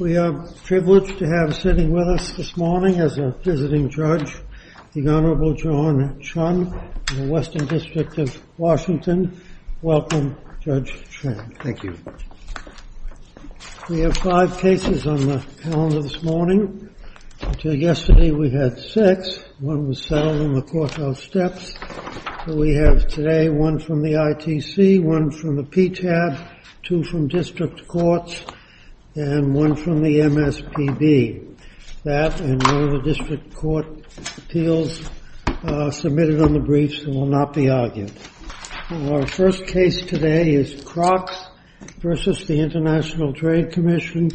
We are privileged to have sitting with us this morning, as a visiting judge, the Honorable John Chun of the Western District of Washington. Welcome, Judge Chun. Thank you. We have five cases on the calendar this morning. Until yesterday, we had six. One was settled in the Courthouse Steps. We have today one from the ITC, one from the PTAB, two from the District Courts, and one from the MSPB. That and one of the District Court appeals submitted on the briefs will not be argued. Our first case today is Crocs v. The International Trade Commission,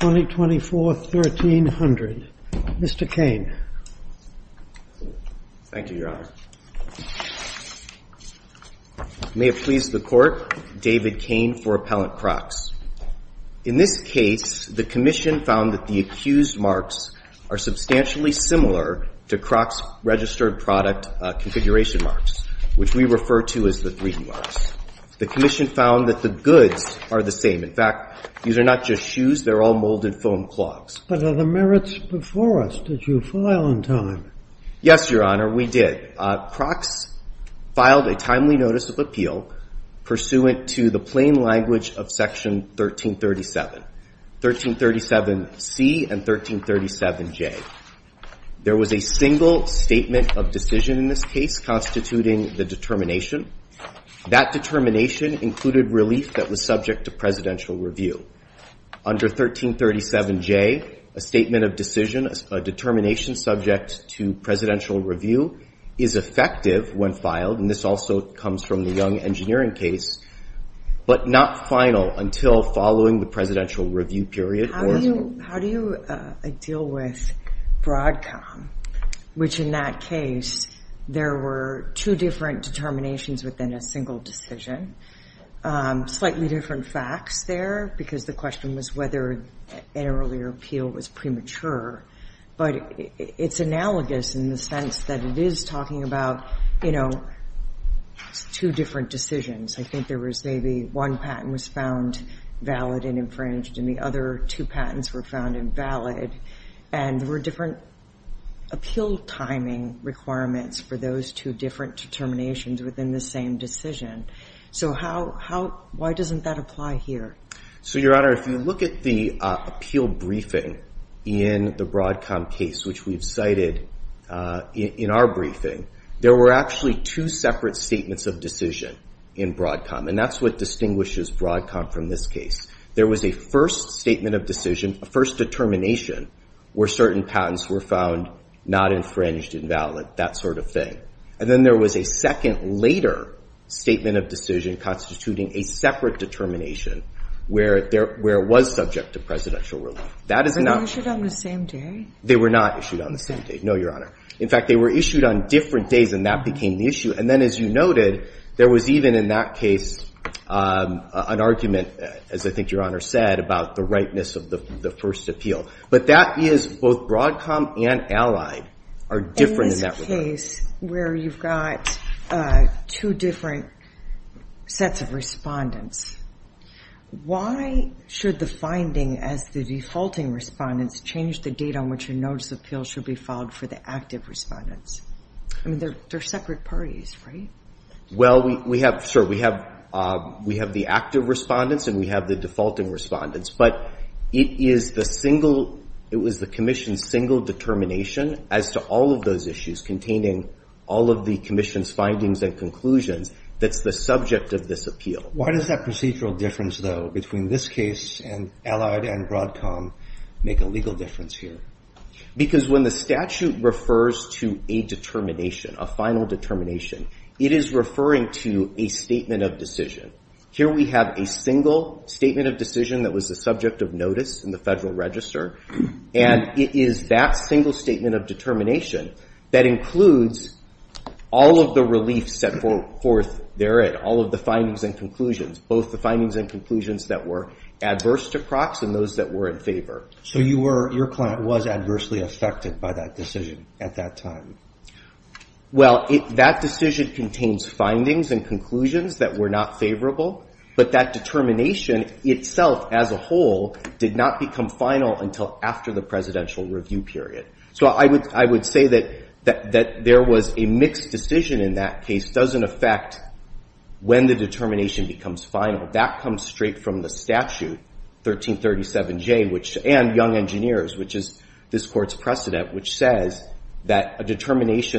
2024-1300. Mr. Cain. Thank you, Your Honor. May it please the Court, David Cain for Appellant Crocs. In this case, the Commission found that the accused marks are substantially similar to Crocs' registered product configuration marks, which we refer to as the 3D marks. The Commission found that the goods are the same. In fact, these are not just shoes. They're all molded foam clogs. But are the merits before us? Did you file in time? Yes, Your Honor, we did. Crocs filed a timely notice of appeal pursuant to the plain language of Section 1337, 1337C and 1337J. There was a single statement of decision in this case constituting the determination. That determination included relief that was subject to presidential review. Under 1337J, a statement of decision, a determination subject to presidential review is effective when filed, and this also comes from the Young Engineering case, but not final until following the presidential review period. How do you deal with Broadcom, which in that case, there were two different determinations within a single decision? Slightly different facts there, because the question was whether an earlier appeal was premature, but it's analogous in the sense that it is talking about two different decisions. I think there was maybe one patent was found valid and infringed, and the other two patents were found invalid, and there were different appeal timing requirements for those two different determinations within the same decision. So why doesn't that apply here? So, Your Honor, if you look at the appeal briefing in the Broadcom case, which we've cited in our briefing, there were actually two separate statements of decision in Broadcom, and that's what distinguishes Broadcom from this case. There was a first statement of decision, a first determination where certain patents were found not infringed, invalid, that sort of thing, and then there was a second later statement of decision constituting a separate determination where it was subject to presidential relief. That is not – Were they issued on the same day? They were not issued on the same day, no, Your Honor. In fact, they were issued on different days, and that became the issue. And then, as you noted, there was even in that case an argument, as I think Your Honor said, about the ripeness of the first appeal. But that is – both Broadcom and Allied are different in that regard. In this case where you've got two different sets of respondents, why should the finding as the defaulting respondents change the date on which a notice of appeal should be filed for the active respondents? I mean, they're separate parties, right? Well, we have – sure, we have the active respondents and we have the defaulting respondents, but it is the single – it was the commission's single determination as to all of those issues containing all of the commission's findings and conclusions that's the subject of this appeal. Why does that procedural difference, though, between this case and Allied and Broadcom make a legal difference here? Because when the statute refers to a determination, a final determination, it is referring to a statement of decision. Here we have a single statement of decision that was the subject of notice in the Federal Register, and it is that single statement of determination that includes all of the relief set forth therein, all of the findings and conclusions, both the findings and conclusions that were adverse to Crocs and those that were in favor. So you were – your client was adversely affected by that decision at that time? Well, that decision contains findings and conclusions that were not favorable, but that determination itself as a whole did not become final until after the presidential review period. So I would say that there was a mixed decision in that case. It doesn't affect when the determination becomes final. That comes straight from the statute, 1337J, which – and Young Engineers, which is this court's determination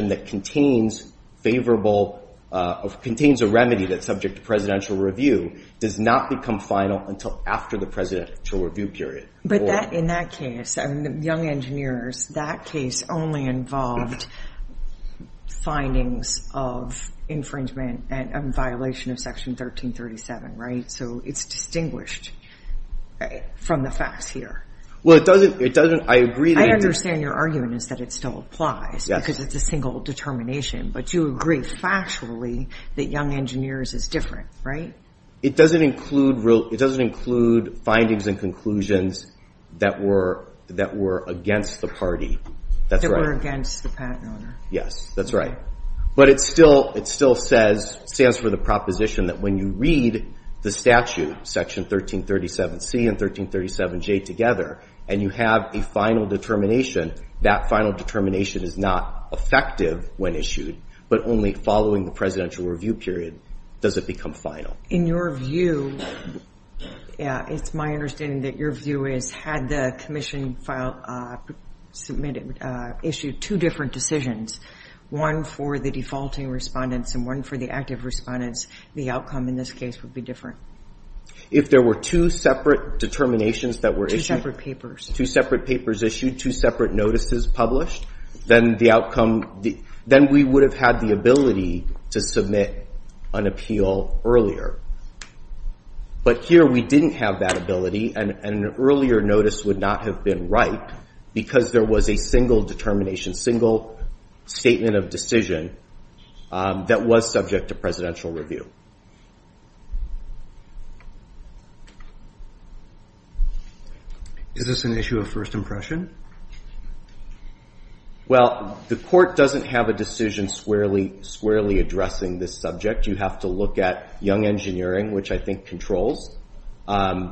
that contains favorable – contains a remedy that's subject to presidential review, does not become final until after the presidential review period. But that – in that case, Young Engineers, that case only involved findings of infringement and violation of Section 1337, right? So it's distinguished from the facts here. Well, it doesn't – it doesn't – I agree that it's – Yes. Because it's a single determination, but you agree factually that Young Engineers is different, right? It doesn't include real – it doesn't include findings and conclusions that were – that were against the party. That's right. That were against the patent owner. Yes, that's right. But it still – it still says – stands for the proposition that when you read the statute, Section 1337C and 1337J together, and you have a final determination, that final determination is not effective when issued, but only following the presidential review period does it become final. In your view – yeah, it's my understanding that your view is, had the commission file – submitted – issued two different decisions, one for the defaulting respondents and one for the active respondents, the outcome in this case would be different. If there were two separate determinations that were issued – Two separate papers. Two separate papers issued, two separate notices published, then the outcome – then we would have had the ability to submit an appeal earlier. But here we didn't have that ability, and an earlier notice would not have been right because there was a single determination, single statement of decision that was subject to presidential review. Is this an issue of first impression? Well, the court doesn't have a decision squarely addressing this subject. You have to look at young engineering, which I think controls, and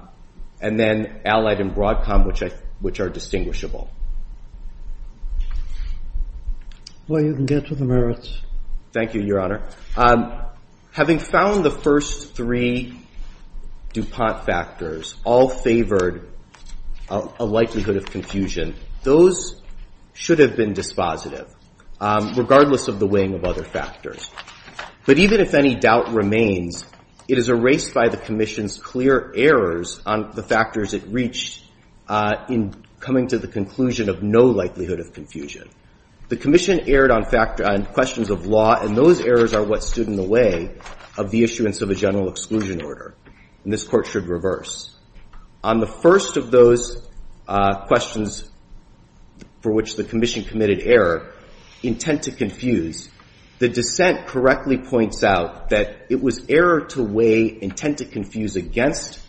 then allied and broadcom, which are distinguishable. Well, you can get to the merits. Thank you, Your Honor. Having found that there were two different I found the first three DuPont factors all favored a likelihood of confusion. Those should have been dispositive, regardless of the weighing of other factors. But even if any doubt remains, it is erased by the commission's clear errors on the factors it reached in coming to the conclusion of no likelihood of confusion. The commission erred on questions of law, and those errors are what stood in the way of the issuance of a general exclusion order, and this court should reverse. On the first of those questions for which the commission committed error, intent to confuse, the dissent correctly points out that it was error to weigh intent to confuse against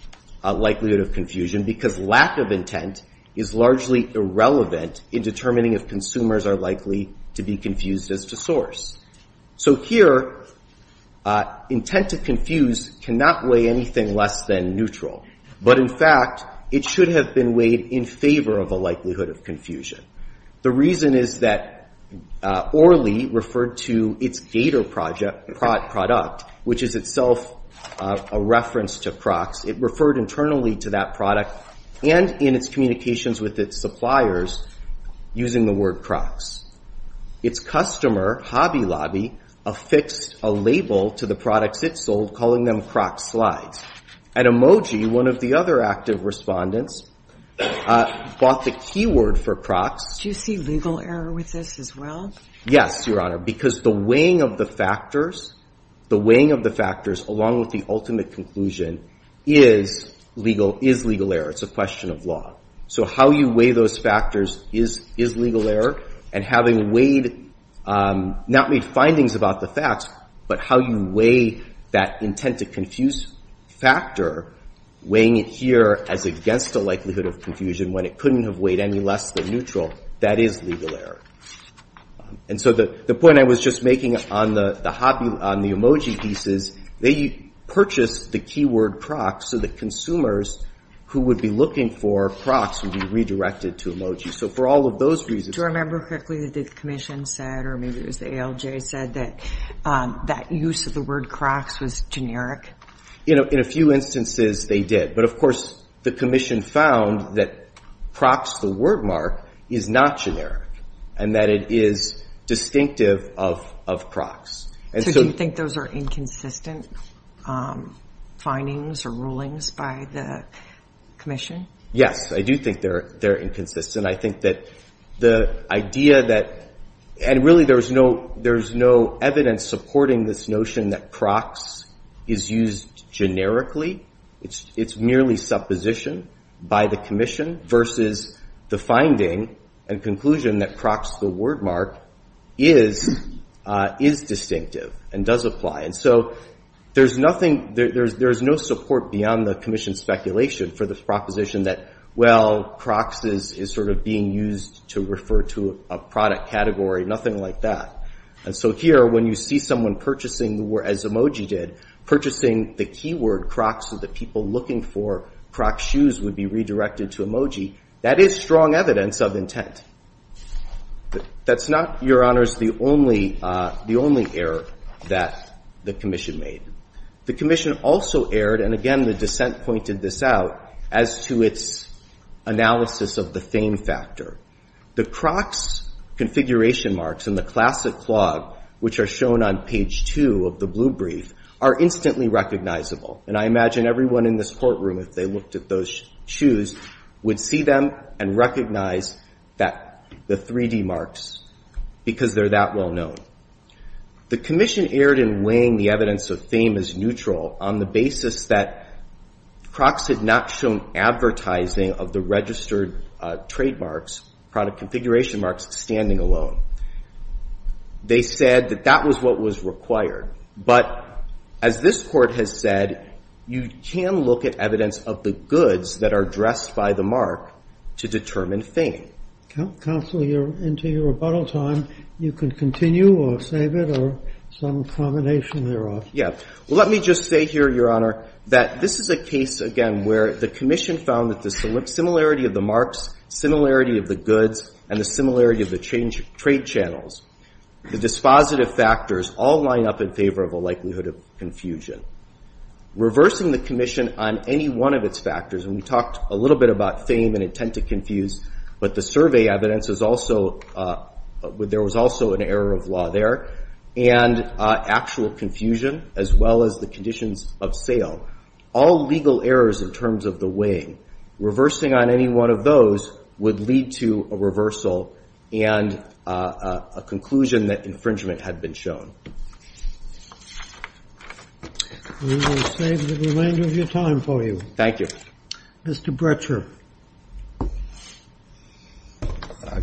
likelihood of confusion because lack of intent is largely irrelevant in determining if consumers are likely to be confused as to source. So here, intent to confuse cannot weigh anything less than neutral, but in fact, it should have been weighed in favor of a likelihood of confusion. The reason is that Orley referred to its Gator product, which is itself a reference to Crocs. It referred internally to that product and in its communications with its suppliers using the word Crocs. Its customer, Hobby Lobby, affixed a label to the products it sold calling them Crocs slides. And Emoji, one of the other active respondents, bought the keyword for Crocs. Do you see legal error with this as well? Yes, Your Honor, because the weighing of the factors, the weighing of the factors along with the ultimate conclusion is legal, is legal error. It's a matter of having weighed, not made findings about the facts, but how you weigh that intent to confuse factor, weighing it here as against a likelihood of confusion when it couldn't have weighed any less than neutral. That is legal error. And so the point I was just making on the emoji pieces, they purchased the keyword Crocs so that consumers who would be looking for Crocs would be redirected to emoji. So for all of those reasons Do you remember quickly that the Commission said or maybe it was the ALJ said that that use of the word Crocs was generic? You know, in a few instances they did. But, of course, the Commission found that Crocs, the word mark, is not generic and that it is distinctive of Crocs. So do you think those are inconsistent findings or rulings by the Commission? Yes, I do think they're inconsistent. I think that the idea that, and really there's no evidence supporting this notion that Crocs is used generically. It's merely supposition by the Commission versus the finding and conclusion that Crocs, the word mark, is distinctive and does apply. And so there's nothing, there's no support beyond the Commission's speculation for the proposition that, well, Crocs is sort of being used to refer to a product category, nothing like that. And so here, when you see someone purchasing the word, as emoji did, purchasing the keyword Crocs so that people looking for Crocs shoes would be redirected to emoji, that is strong evidence of That's not, Your Honors, the only error that the Commission made. The Commission also erred, and again the dissent pointed this out, as to its analysis of the fame factor. The Crocs configuration marks and the classic clog, which are shown on page two of the blue brief, are instantly recognizable. And I imagine everyone in this courtroom, if they looked at those shoes, would see them and recognize that, the 3D marks, because they're that well known. The Commission erred in weighing the evidence of fame as neutral on the basis that Crocs had not shown advertising of the registered trademarks, product configuration marks, standing alone. They said that that was what was required. But as this Court has said, you can look at evidence of the goods that are addressed by the mark to determine fame. Counselor, you're into your rebuttal time. You can continue or save it or some combination thereof. Yeah. Let me just say here, Your Honor, that this is a case, again, where the Commission found that the similarity of the marks, similarity of the goods, and the similarity of the trade channels, the dispositive factors, all line up in favor of a likelihood of confusion. Reversing the Commission on any one of its factors, and we talked a little bit about fame and intent to confuse, but the survey evidence is also, there was also an error of law there, and actual confusion, as well as the conditions of sale. All legal errors in terms of the weighing. Reversing on any one of those would lead to a reversal and a confusion, and that's what we're going to do today. We're going to save the remainder of your time for you. Thank you. Mr. Bretscher.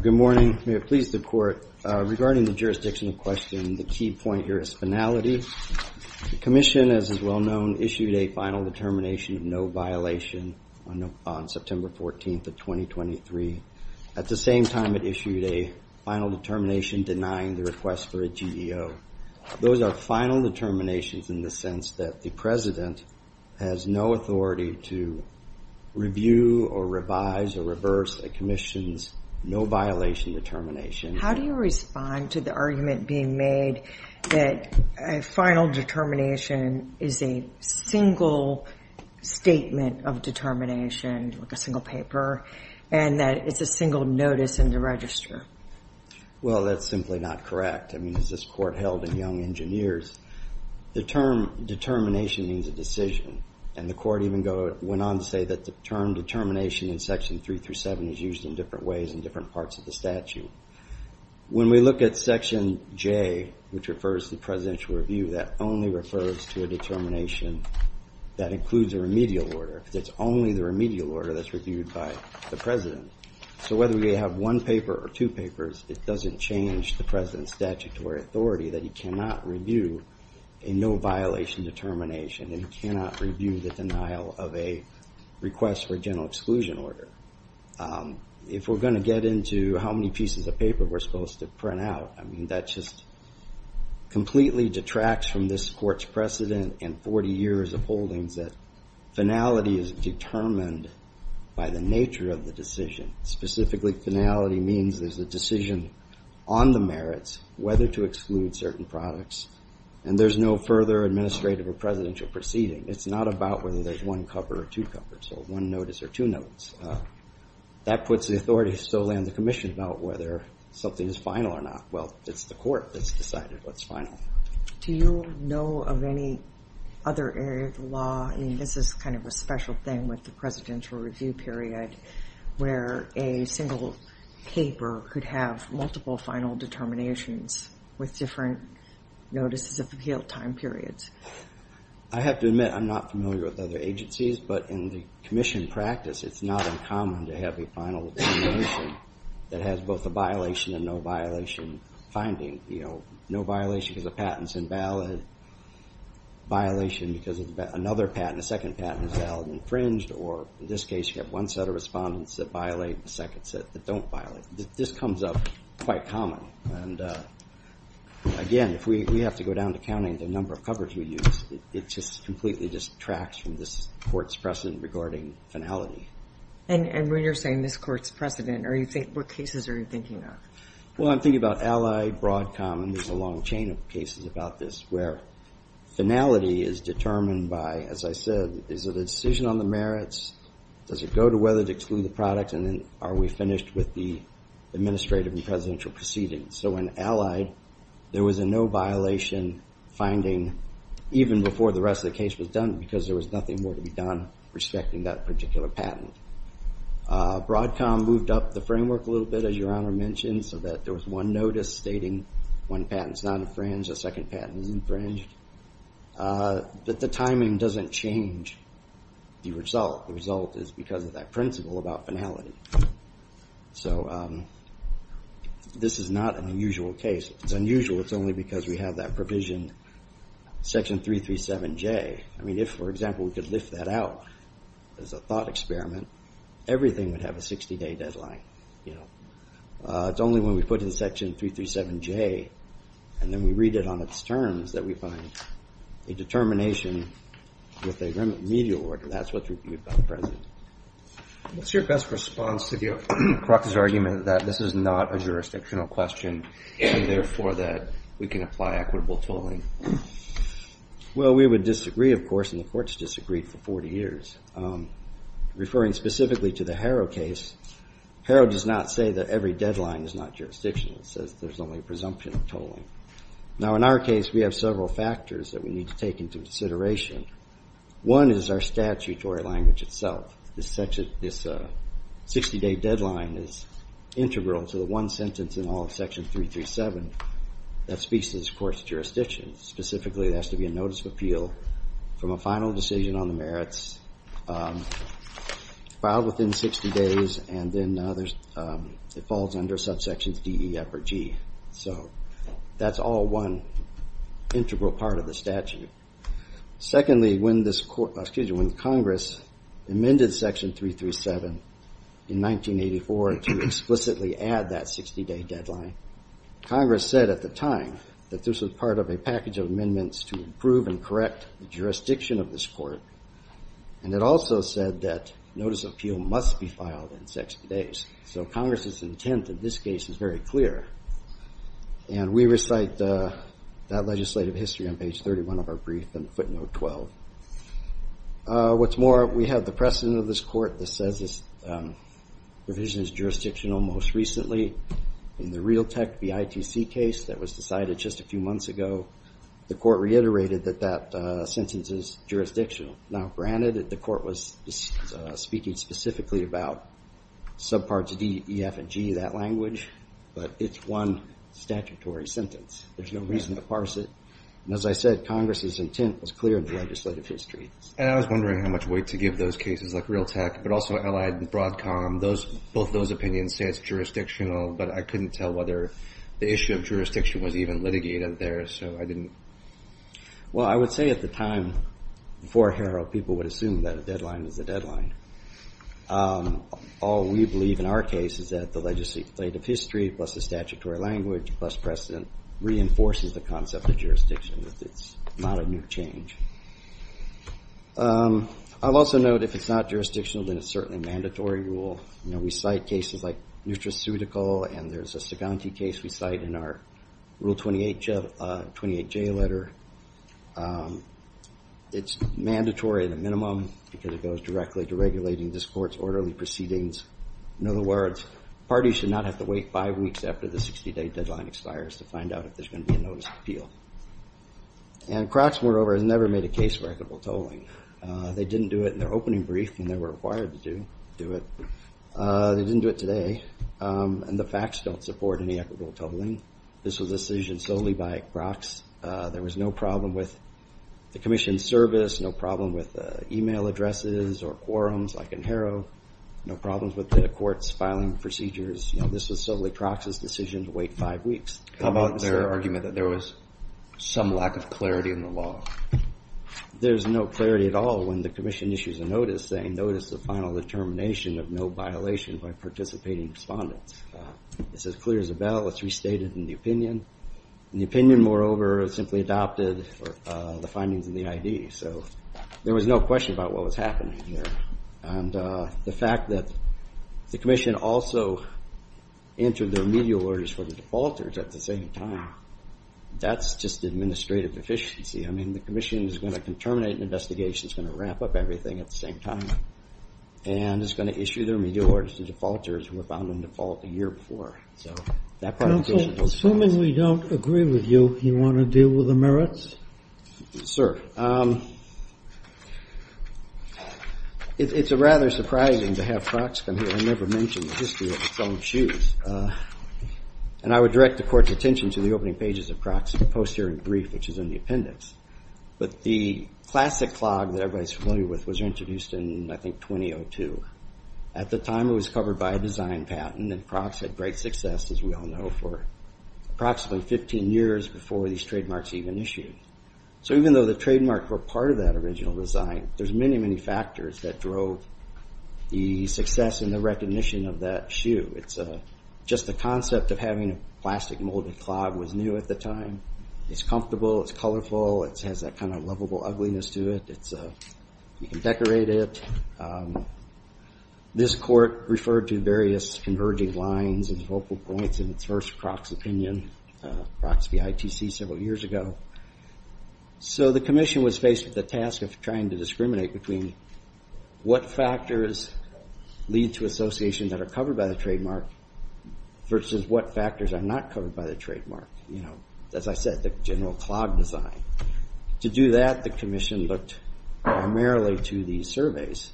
Good morning. May it please the Court. Regarding the jurisdictional question, the key point here is finality. The Commission, as is well known, issued a final determination of no violation on September 14th of 2023. At the same time, it issued a final determination denying the request for a GEO. Those are final determinations in the sense that the President has no authority to review or revise or reverse a Commission's no violation determination. How do you respond to the argument being made that a final determination is a single statement of determination, like a single paper, and that it's a single notice in the register? Well, that's simply not correct. I mean, as this Court held in Young Engineers, the term determination means a decision, and the Court even went on to say that the term determination in Section 3-7 is used in different ways in different parts of the statute. When we look at Section J, which refers to presidential review, that only refers to a determination that includes a remedial order, because it's only the remedial order that's reviewed by the President. So whether we have one paper or two papers, it doesn't change the President's statutory authority that he cannot review a no violation determination, and he cannot review the denial of a request for a general exclusion order. If we're going to get into how many pieces of paper we're supposed to print out, I mean, that just completely detracts from this Court's precedent in 40 years of holdings, that finality is determined by the nature of the decision. Specifically, finality means there's a decision on the merits whether to exclude certain products, and there's no further administrative or presidential proceeding. It's not about whether there's one cover or two covers, or one notice or two notes. That puts the authority solely on the Commission about whether something is final or not. Well, it's the Court that's decided what's final. Do you know of any other area of the law? I mean, this is kind of a special thing with the presidential review period, where a single paper could have multiple final determinations with different notices of appeal time periods. I have to admit, I'm not familiar with other agencies, but in the Commission practice, it's not uncommon to have a final determination that has both a violation and no violation finding. No violation because a patent, a second patent is valid and infringed, or in this case, you have one set of respondents that violate and a second set that don't violate. This comes up quite common. And again, if we have to go down to counting the number of covers we use, it just completely detracts from this Court's precedent regarding finality. And when you're saying this Court's precedent, what cases are you thinking of? Well, I'm thinking about allied, broad, common. There's a long chain of cases about this, where finality is determined by, as I said, is it a decision on the merits? Does it go to whether to exclude the product? And then are we finished with the administrative and presidential proceedings? So in allied, there was a no violation finding, even before the rest of the case was done, because there was nothing more to be done respecting that particular patent. Broadcom moved up the framework a little bit, as Your Honor mentioned, so that there was one notice stating one patent is not infringed, a second patent is infringed. But the timing doesn't change the result. The result is because of that principle about finality. So this is not an unusual case. If it's unusual, it's only because we have that provision, Section 337J. I mean, if, for example, we took that out as a thought experiment, everything would have a 60-day deadline. It's only when we put in Section 337J, and then we read it on its terms, that we find a determination with a remedy order. That's what's reviewed by the President. What's your best response to the argument that this is not a jurisdictional question, and therefore that we can apply equitable tolling? Well, we would disagree, of course, and the courts disagreed for 40 years. Referring specifically to the Harrow case, Harrow does not say that every deadline is not jurisdictional. It says there's only a presumption of tolling. Now, in our case, we have several factors that we need to take into consideration. One is our statutory language itself. This 60-day deadline is integral to the one sentence in all of Section 337 that speaks to this court's jurisdiction. Specifically, there has to be a notice of appeal from a final decision on the merits filed within 60 days, and then it falls under subsections D, E, F, or G. So that's all one integral part of the statute. Secondly, when Congress amended Section 337 in 1984 to explicitly add that 60-day deadline, Congress said at the time that this was part of a package of amendments to improve and correct the jurisdiction of this court, and it also said that notice of appeal must be filed in 60 days. So Congress's intent in this case is very clear, and we recite that legislative history on page 31 of our brief in footnote 12. What's more, we have the precedent of this court that says this provision is jurisdictional most recently. In the Realtek v. ITC case that was decided just a few months ago, the court reiterated that that sentence is jurisdictional. Now, granted that the court was speaking specifically about subparts D, E, F, and G, that language, but it's one statutory sentence. There's no reason to parse it, and as I said, Congress's intent was clear in the legislative history. And I was wondering how much weight to give those cases, like Realtek, but also Allied and Broadcom. Both those opinions say it's jurisdictional, but I couldn't tell whether the issue of jurisdiction was even litigated there, so I didn't... Well, I would say at the time, before Harrell, people would assume that a deadline is a deadline. All we believe in our case is that the legislative history, plus the statutory language, plus precedent, reinforces the concept of jurisdiction, that it's not a new change. I'll also note, if it's not jurisdictional, then it's certainly a mandatory rule. We cite cases like Nutraceutical, and there's a Suganti case we cite in our Rule 28J letter. It's mandatory at a minimum, because it goes directly to regulating this court's orderly proceedings. In other words, parties should not have to wait five weeks after the 60 day deadline expires to find out if there's going to be a notice of appeal. And Crocs, moreover, has never made a case for equitable tolling. They didn't do it in their opening brief when they were required to do it. They didn't do it today, and the facts don't support any equitable tolling. This was a decision solely by Crocs. There was no problem with the commission's service, no problem with email addresses or quorums like in Harrell, no problems with the court's filing procedures. This was solely Crocs' decision to wait five weeks. How about their argument that there was some lack of clarity in the law? There's no clarity at all. When the commission issues a notice, they notice the final determination of no violation by participating respondents. This is clear as a bell. It's restated in the opinion. The opinion, moreover, simply adopted the findings in the ID. So there was no question about what was happening here. And the fact that the commission also entered their remedial orders for the defaulters at the same time, that's just administrative deficiency. I mean, the commission is going to terminate an investigation, it's going to wrap up everything at the same time, and it's going to issue their remedial orders to defaulters who were found in default a year before. So that part of the case is a no-brainer. Assuming we don't agree with you, you want to deal with the merits? Sir. It's rather surprising to have Crocs come here. I never mentioned the history of Crocs' own shoes. And I would direct the court's attention to the opening pages of Crocs' posterior brief, which is in the appendix. But the classic clog that everybody's familiar with was introduced in, I think, 2002. At the time, it was covered by a design patent, and Crocs had great success, as we all know, for approximately 15 years before these trademarks even issued. So even though the trademarks were part of that original design, there's many, many factors that drove the success and the recognition of that shoe. It's just the concept of having a plastic molded clog was new at the time. It's comfortable, it's colorful, it has that kind of lovable ugliness to it. You can decorate it. This court referred to various converging lines and focal points in its first Crocs opinion, Crocs v. ITC, several years ago. So the commission was faced with the task of trying to discriminate between what factors lead to associations that are covered by the trademark versus what factors are not covered by the trademark. As I said, the general clog design. To do that, the commission looked primarily to these surveys.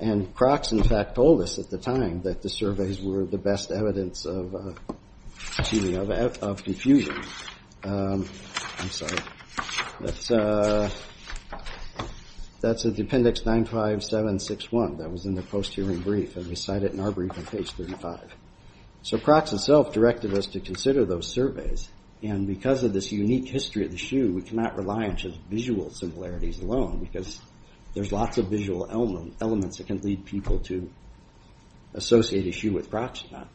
And Crocs, in fact, told us at the time that the surveys were the best evidence of confusion. I'm sorry. That's a Dependix 95761 that was in the post-hearing brief, and we cite it in our brief on page 35. So Crocs itself directed us to consider those surveys, and because of this unique history of the shoe, we cannot rely on just visual similarities alone, because there's lots of visual elements that can lead people to associate a shoe with Crocs or not.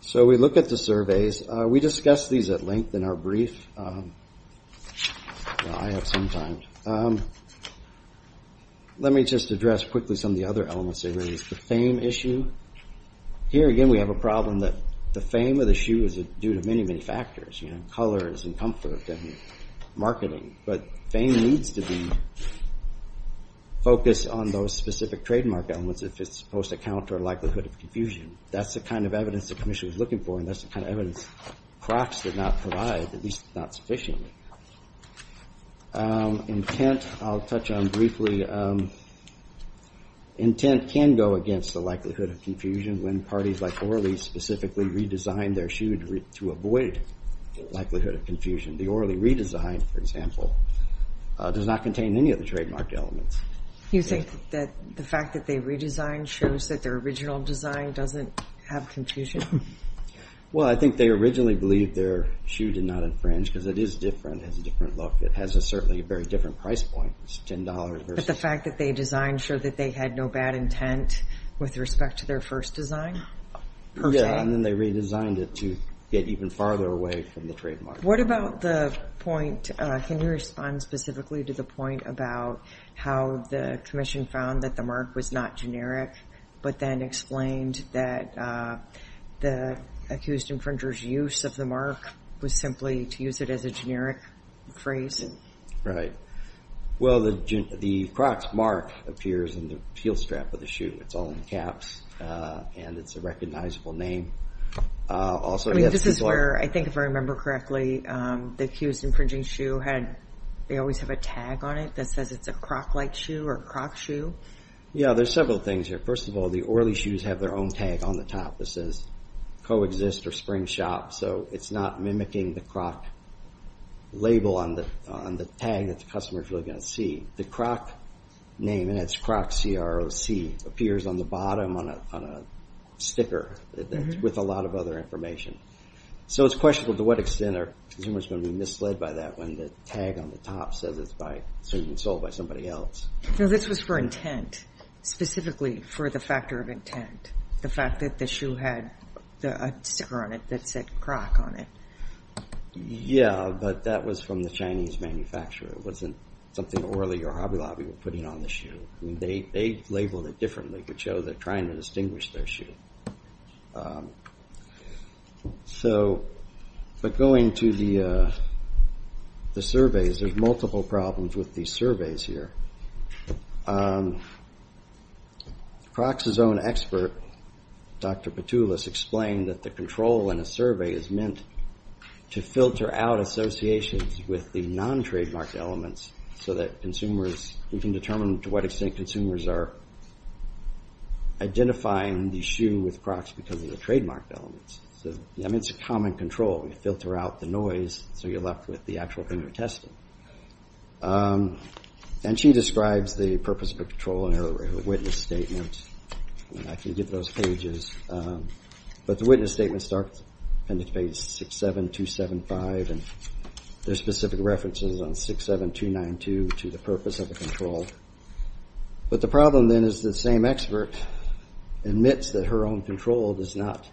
So we look at the surveys. We discussed these at length in our brief. I have some time. Let me just address quickly some of the other elements they raised. The fame issue. Here again, we have a problem that the fame of the shoe is due to many, many factors. Colors and comfort and marketing. But fame needs to be focused on those specific trademark elements if it's supposed to counter likelihood of confusion. That's the kind of evidence the commission was looking for, and that's the kind of evidence Crocs did not provide, at least not sufficiently. Intent, I'll touch on briefly. Intent can go against the likelihood of confusion when parties like Orly specifically redesigned their shoe to avoid likelihood of confusion. The Orly redesign, for example, does not contain any of the trademark elements. You think that the fact that they redesigned shows that their original design doesn't have confusion? Well, I think they originally believed their shoe did not infringe, because it is different. It has a different look. It has certainly a very different price point. It's $10 versus... The fact that they designed showed that they had no bad intent with respect to their first design? Yeah, and then they redesigned it to get even farther away from the trademark. What about the point, can you respond specifically to the point about how the commission found that the mark was not generic, but then explained that the accused infringer's use of the mark was simply to use it as a generic phrase? Right. Well, the Crocs mark appears in the heel strap of the shoe. It's all in caps, and it's a recognizable name. This is where, I think if I remember correctly, the accused infringing shoe, they always have a tag on it that says it's a Croc-like shoe or a Croc shoe? Yeah, there's several things here. First of all, the Orly shoes have their own tag on the top that says Coexist or Spring Shop, so it's not mimicking the Croc label on the tag that the customer's really going to see. The Croc name, and it's Croc, C-R-O-C, appears on the bottom on a sticker with a lot of other information. So it's questionable to what extent a consumer's going to be misled by that when the tag on the top says it's been sold by somebody else. So this was for intent, specifically for the factor of intent, the fact that the shoe had a sticker on it that said Croc on it. Yeah, but that was from the Chinese manufacturer. It wasn't something Orly or Hobby Lobby were putting on the shoe. They labeled it differently to show they're trying to distinguish their shoe. But going to the surveys, there's multiple problems with these surveys here. Croc's own expert, Dr. Petulis, explained that the control in a survey is meant to filter out associations with the non-trademark elements so that consumers can determine to what extent consumers are identifying the shoe with Croc's because of the trademark elements. It's a common control. You filter out the noise so you're left with the actual thing you're testing. And she describes the purpose of the control in her witness statement, and I can give those pages. But the witness statement starts, appendix page 67275, and there's specific references on 67292 to the purpose of the control. But the problem then is the same expert admits that her own control does not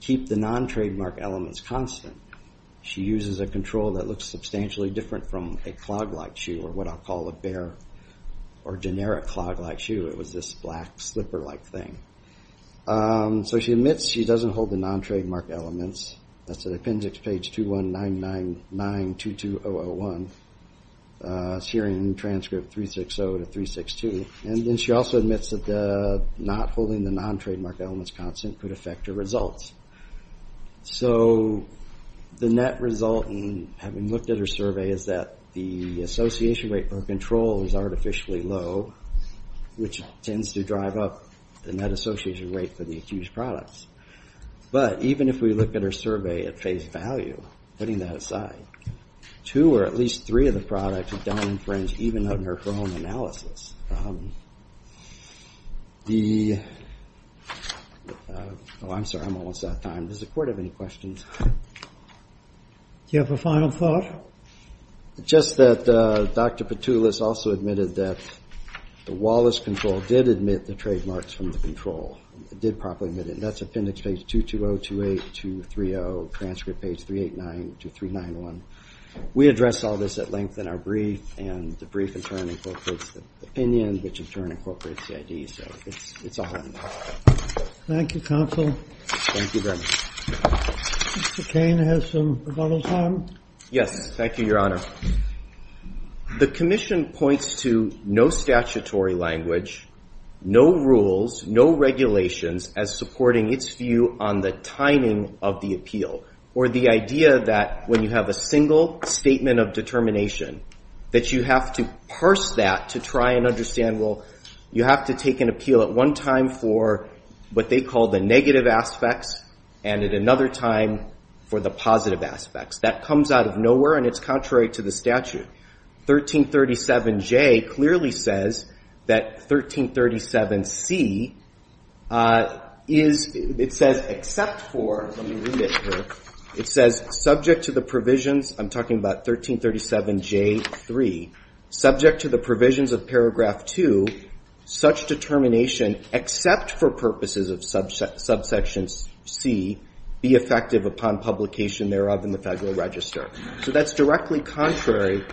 keep the non-trademark elements constant. She uses a control that looks substantially different from a clog-like shoe, or what I'll call a bare or generic clog-like shoe. It was this black, slipper-like thing. So she admits she doesn't hold the non-trademark elements. That's at appendix page 2199922001. It's here in transcript 360 to 362. And then she also admits that not holding the non-trademark elements constant could affect her results. So the net result in having looked at her survey is that the association rate for control is artificially low, which tends to drive up the net association rate for the accused products. But even if we look at her survey at face value, putting that aside, two or at least three of the products are down in fringe, even under her own analysis. Oh, I'm sorry. I'm almost out of time. Does the Court have any questions? Do you have a final thought? Yes, thank you, Your Honor. The commission points to no statutory language, no rules, no regulations as supporting its view on the timing of the appeal, or the idea that when you have a single statement of determination, that you have to parse that to try and understand, well, you have to take an appeal at one time for what they call the negative aspects, and at another time for the positive aspects. That comes out of nowhere, and it's contrary to the statute. 1337J clearly says that 1337C is, it says, except for, let me read it here, it says, subject to the provisions, I'm talking about 1337J3, subject to the provisions of paragraph 2, such determination except for purposes of subsection C be effective upon publication thereof in the Federal Register. So that's directly contrary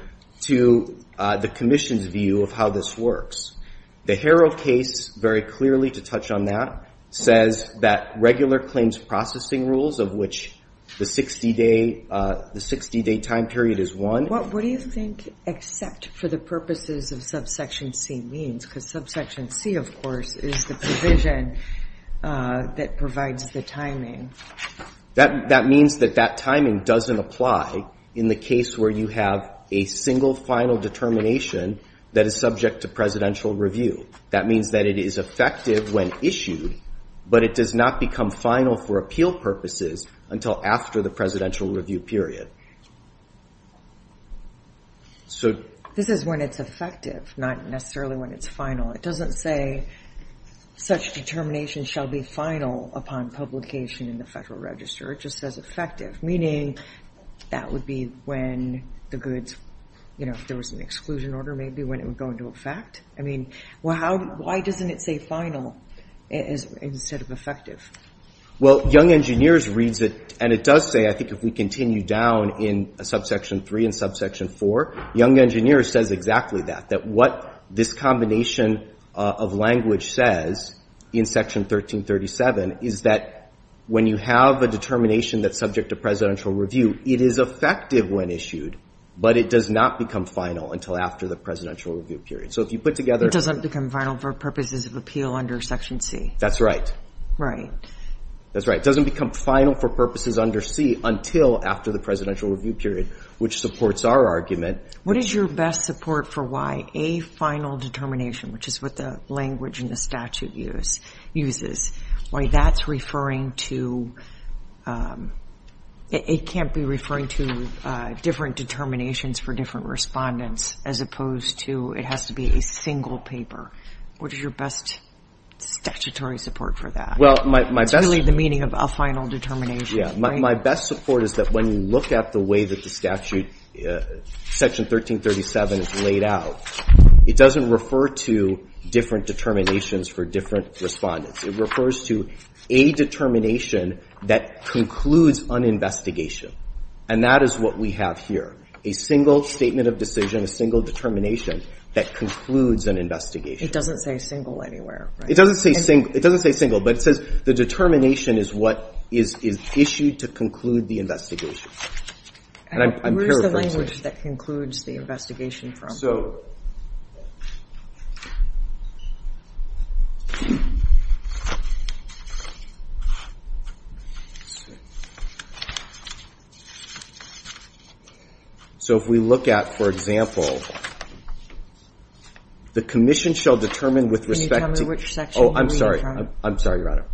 to the commission's view of how this works. The Harrow case, very clearly to touch on that, says that regular claims processing rules of which the 60-day time period is one. What do you think except for the purposes of subsection C means? Because subsection C, of course, is the provision that provides the timing. That means that that timing doesn't apply in the case where you have a single final determination that is subject to presidential review. That means that it is effective when issued, but it does not become final for appeal purposes until after the presidential review period. This is when it's effective, not necessarily when it's final. It doesn't say such determination shall be final upon publication in the Federal Register. It just says effective, meaning that would be when the goods, if there was an exclusion order, maybe when it would go into effect. I mean, why doesn't it say final instead of effective? Well, Young Engineers reads it, and it does say, I think, if we continue down in subsection 3 and subsection 4, Young Engineers says exactly that, that what this combination of language says in section 1337 is that when you have a determination that's subject to presidential review, it is effective when issued, but it does not become final until after the presidential review period. So if you put together It doesn't become final for purposes of appeal under section C. That's right. Right. That's right. It doesn't become final for purposes under C until after the presidential review period, which supports our argument. What is your best support for why a final determination, which is what the language and the statute uses, why that's referring to, it can't be referring to different determinations for different respondents as opposed to it has to be a single paper. What is your best statutory support for that? Well, my best It's really the meaning of a final determination. Yeah. My best support is that when you look at the way that the statute, section 1337 is laid out, it doesn't refer to different determinations for different respondents. It refers to a determination that concludes an investigation. And that is what we have here, a single statement of decision, a single determination that concludes an investigation. It doesn't say single anywhere, right? It doesn't say single, but it says the determination is what is issued to conclude the investigation. And I'm paraphrasing. Where's the language that concludes the investigation from? So if we look at, for example, the commission shall determine with respect to Can you tell me which section you're referring to? Oh, I'm sorry. I'm sorry, Your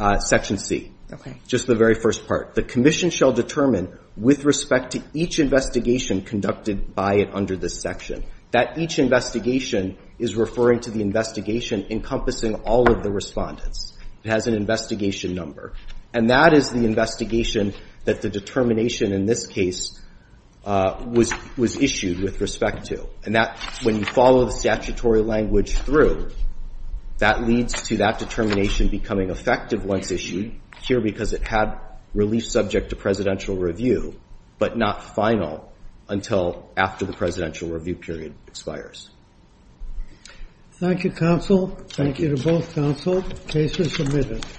Honor. Section C. Okay. Just the very first part. The commission shall determine with respect to each investigation conducted by it under this section. That each investigation is referring to the investigation encompassing all of the respondents. It has an investigation number. And that is the investigation that the determination in this case was issued with respect to. And that, when you follow the statutory language through, that leads to that determination becoming effective once issued, here because it had relief that it was subject to presidential review, but not final until after the presidential review period expires. Thank you, counsel. Thank you to both counsel. Case is submitted.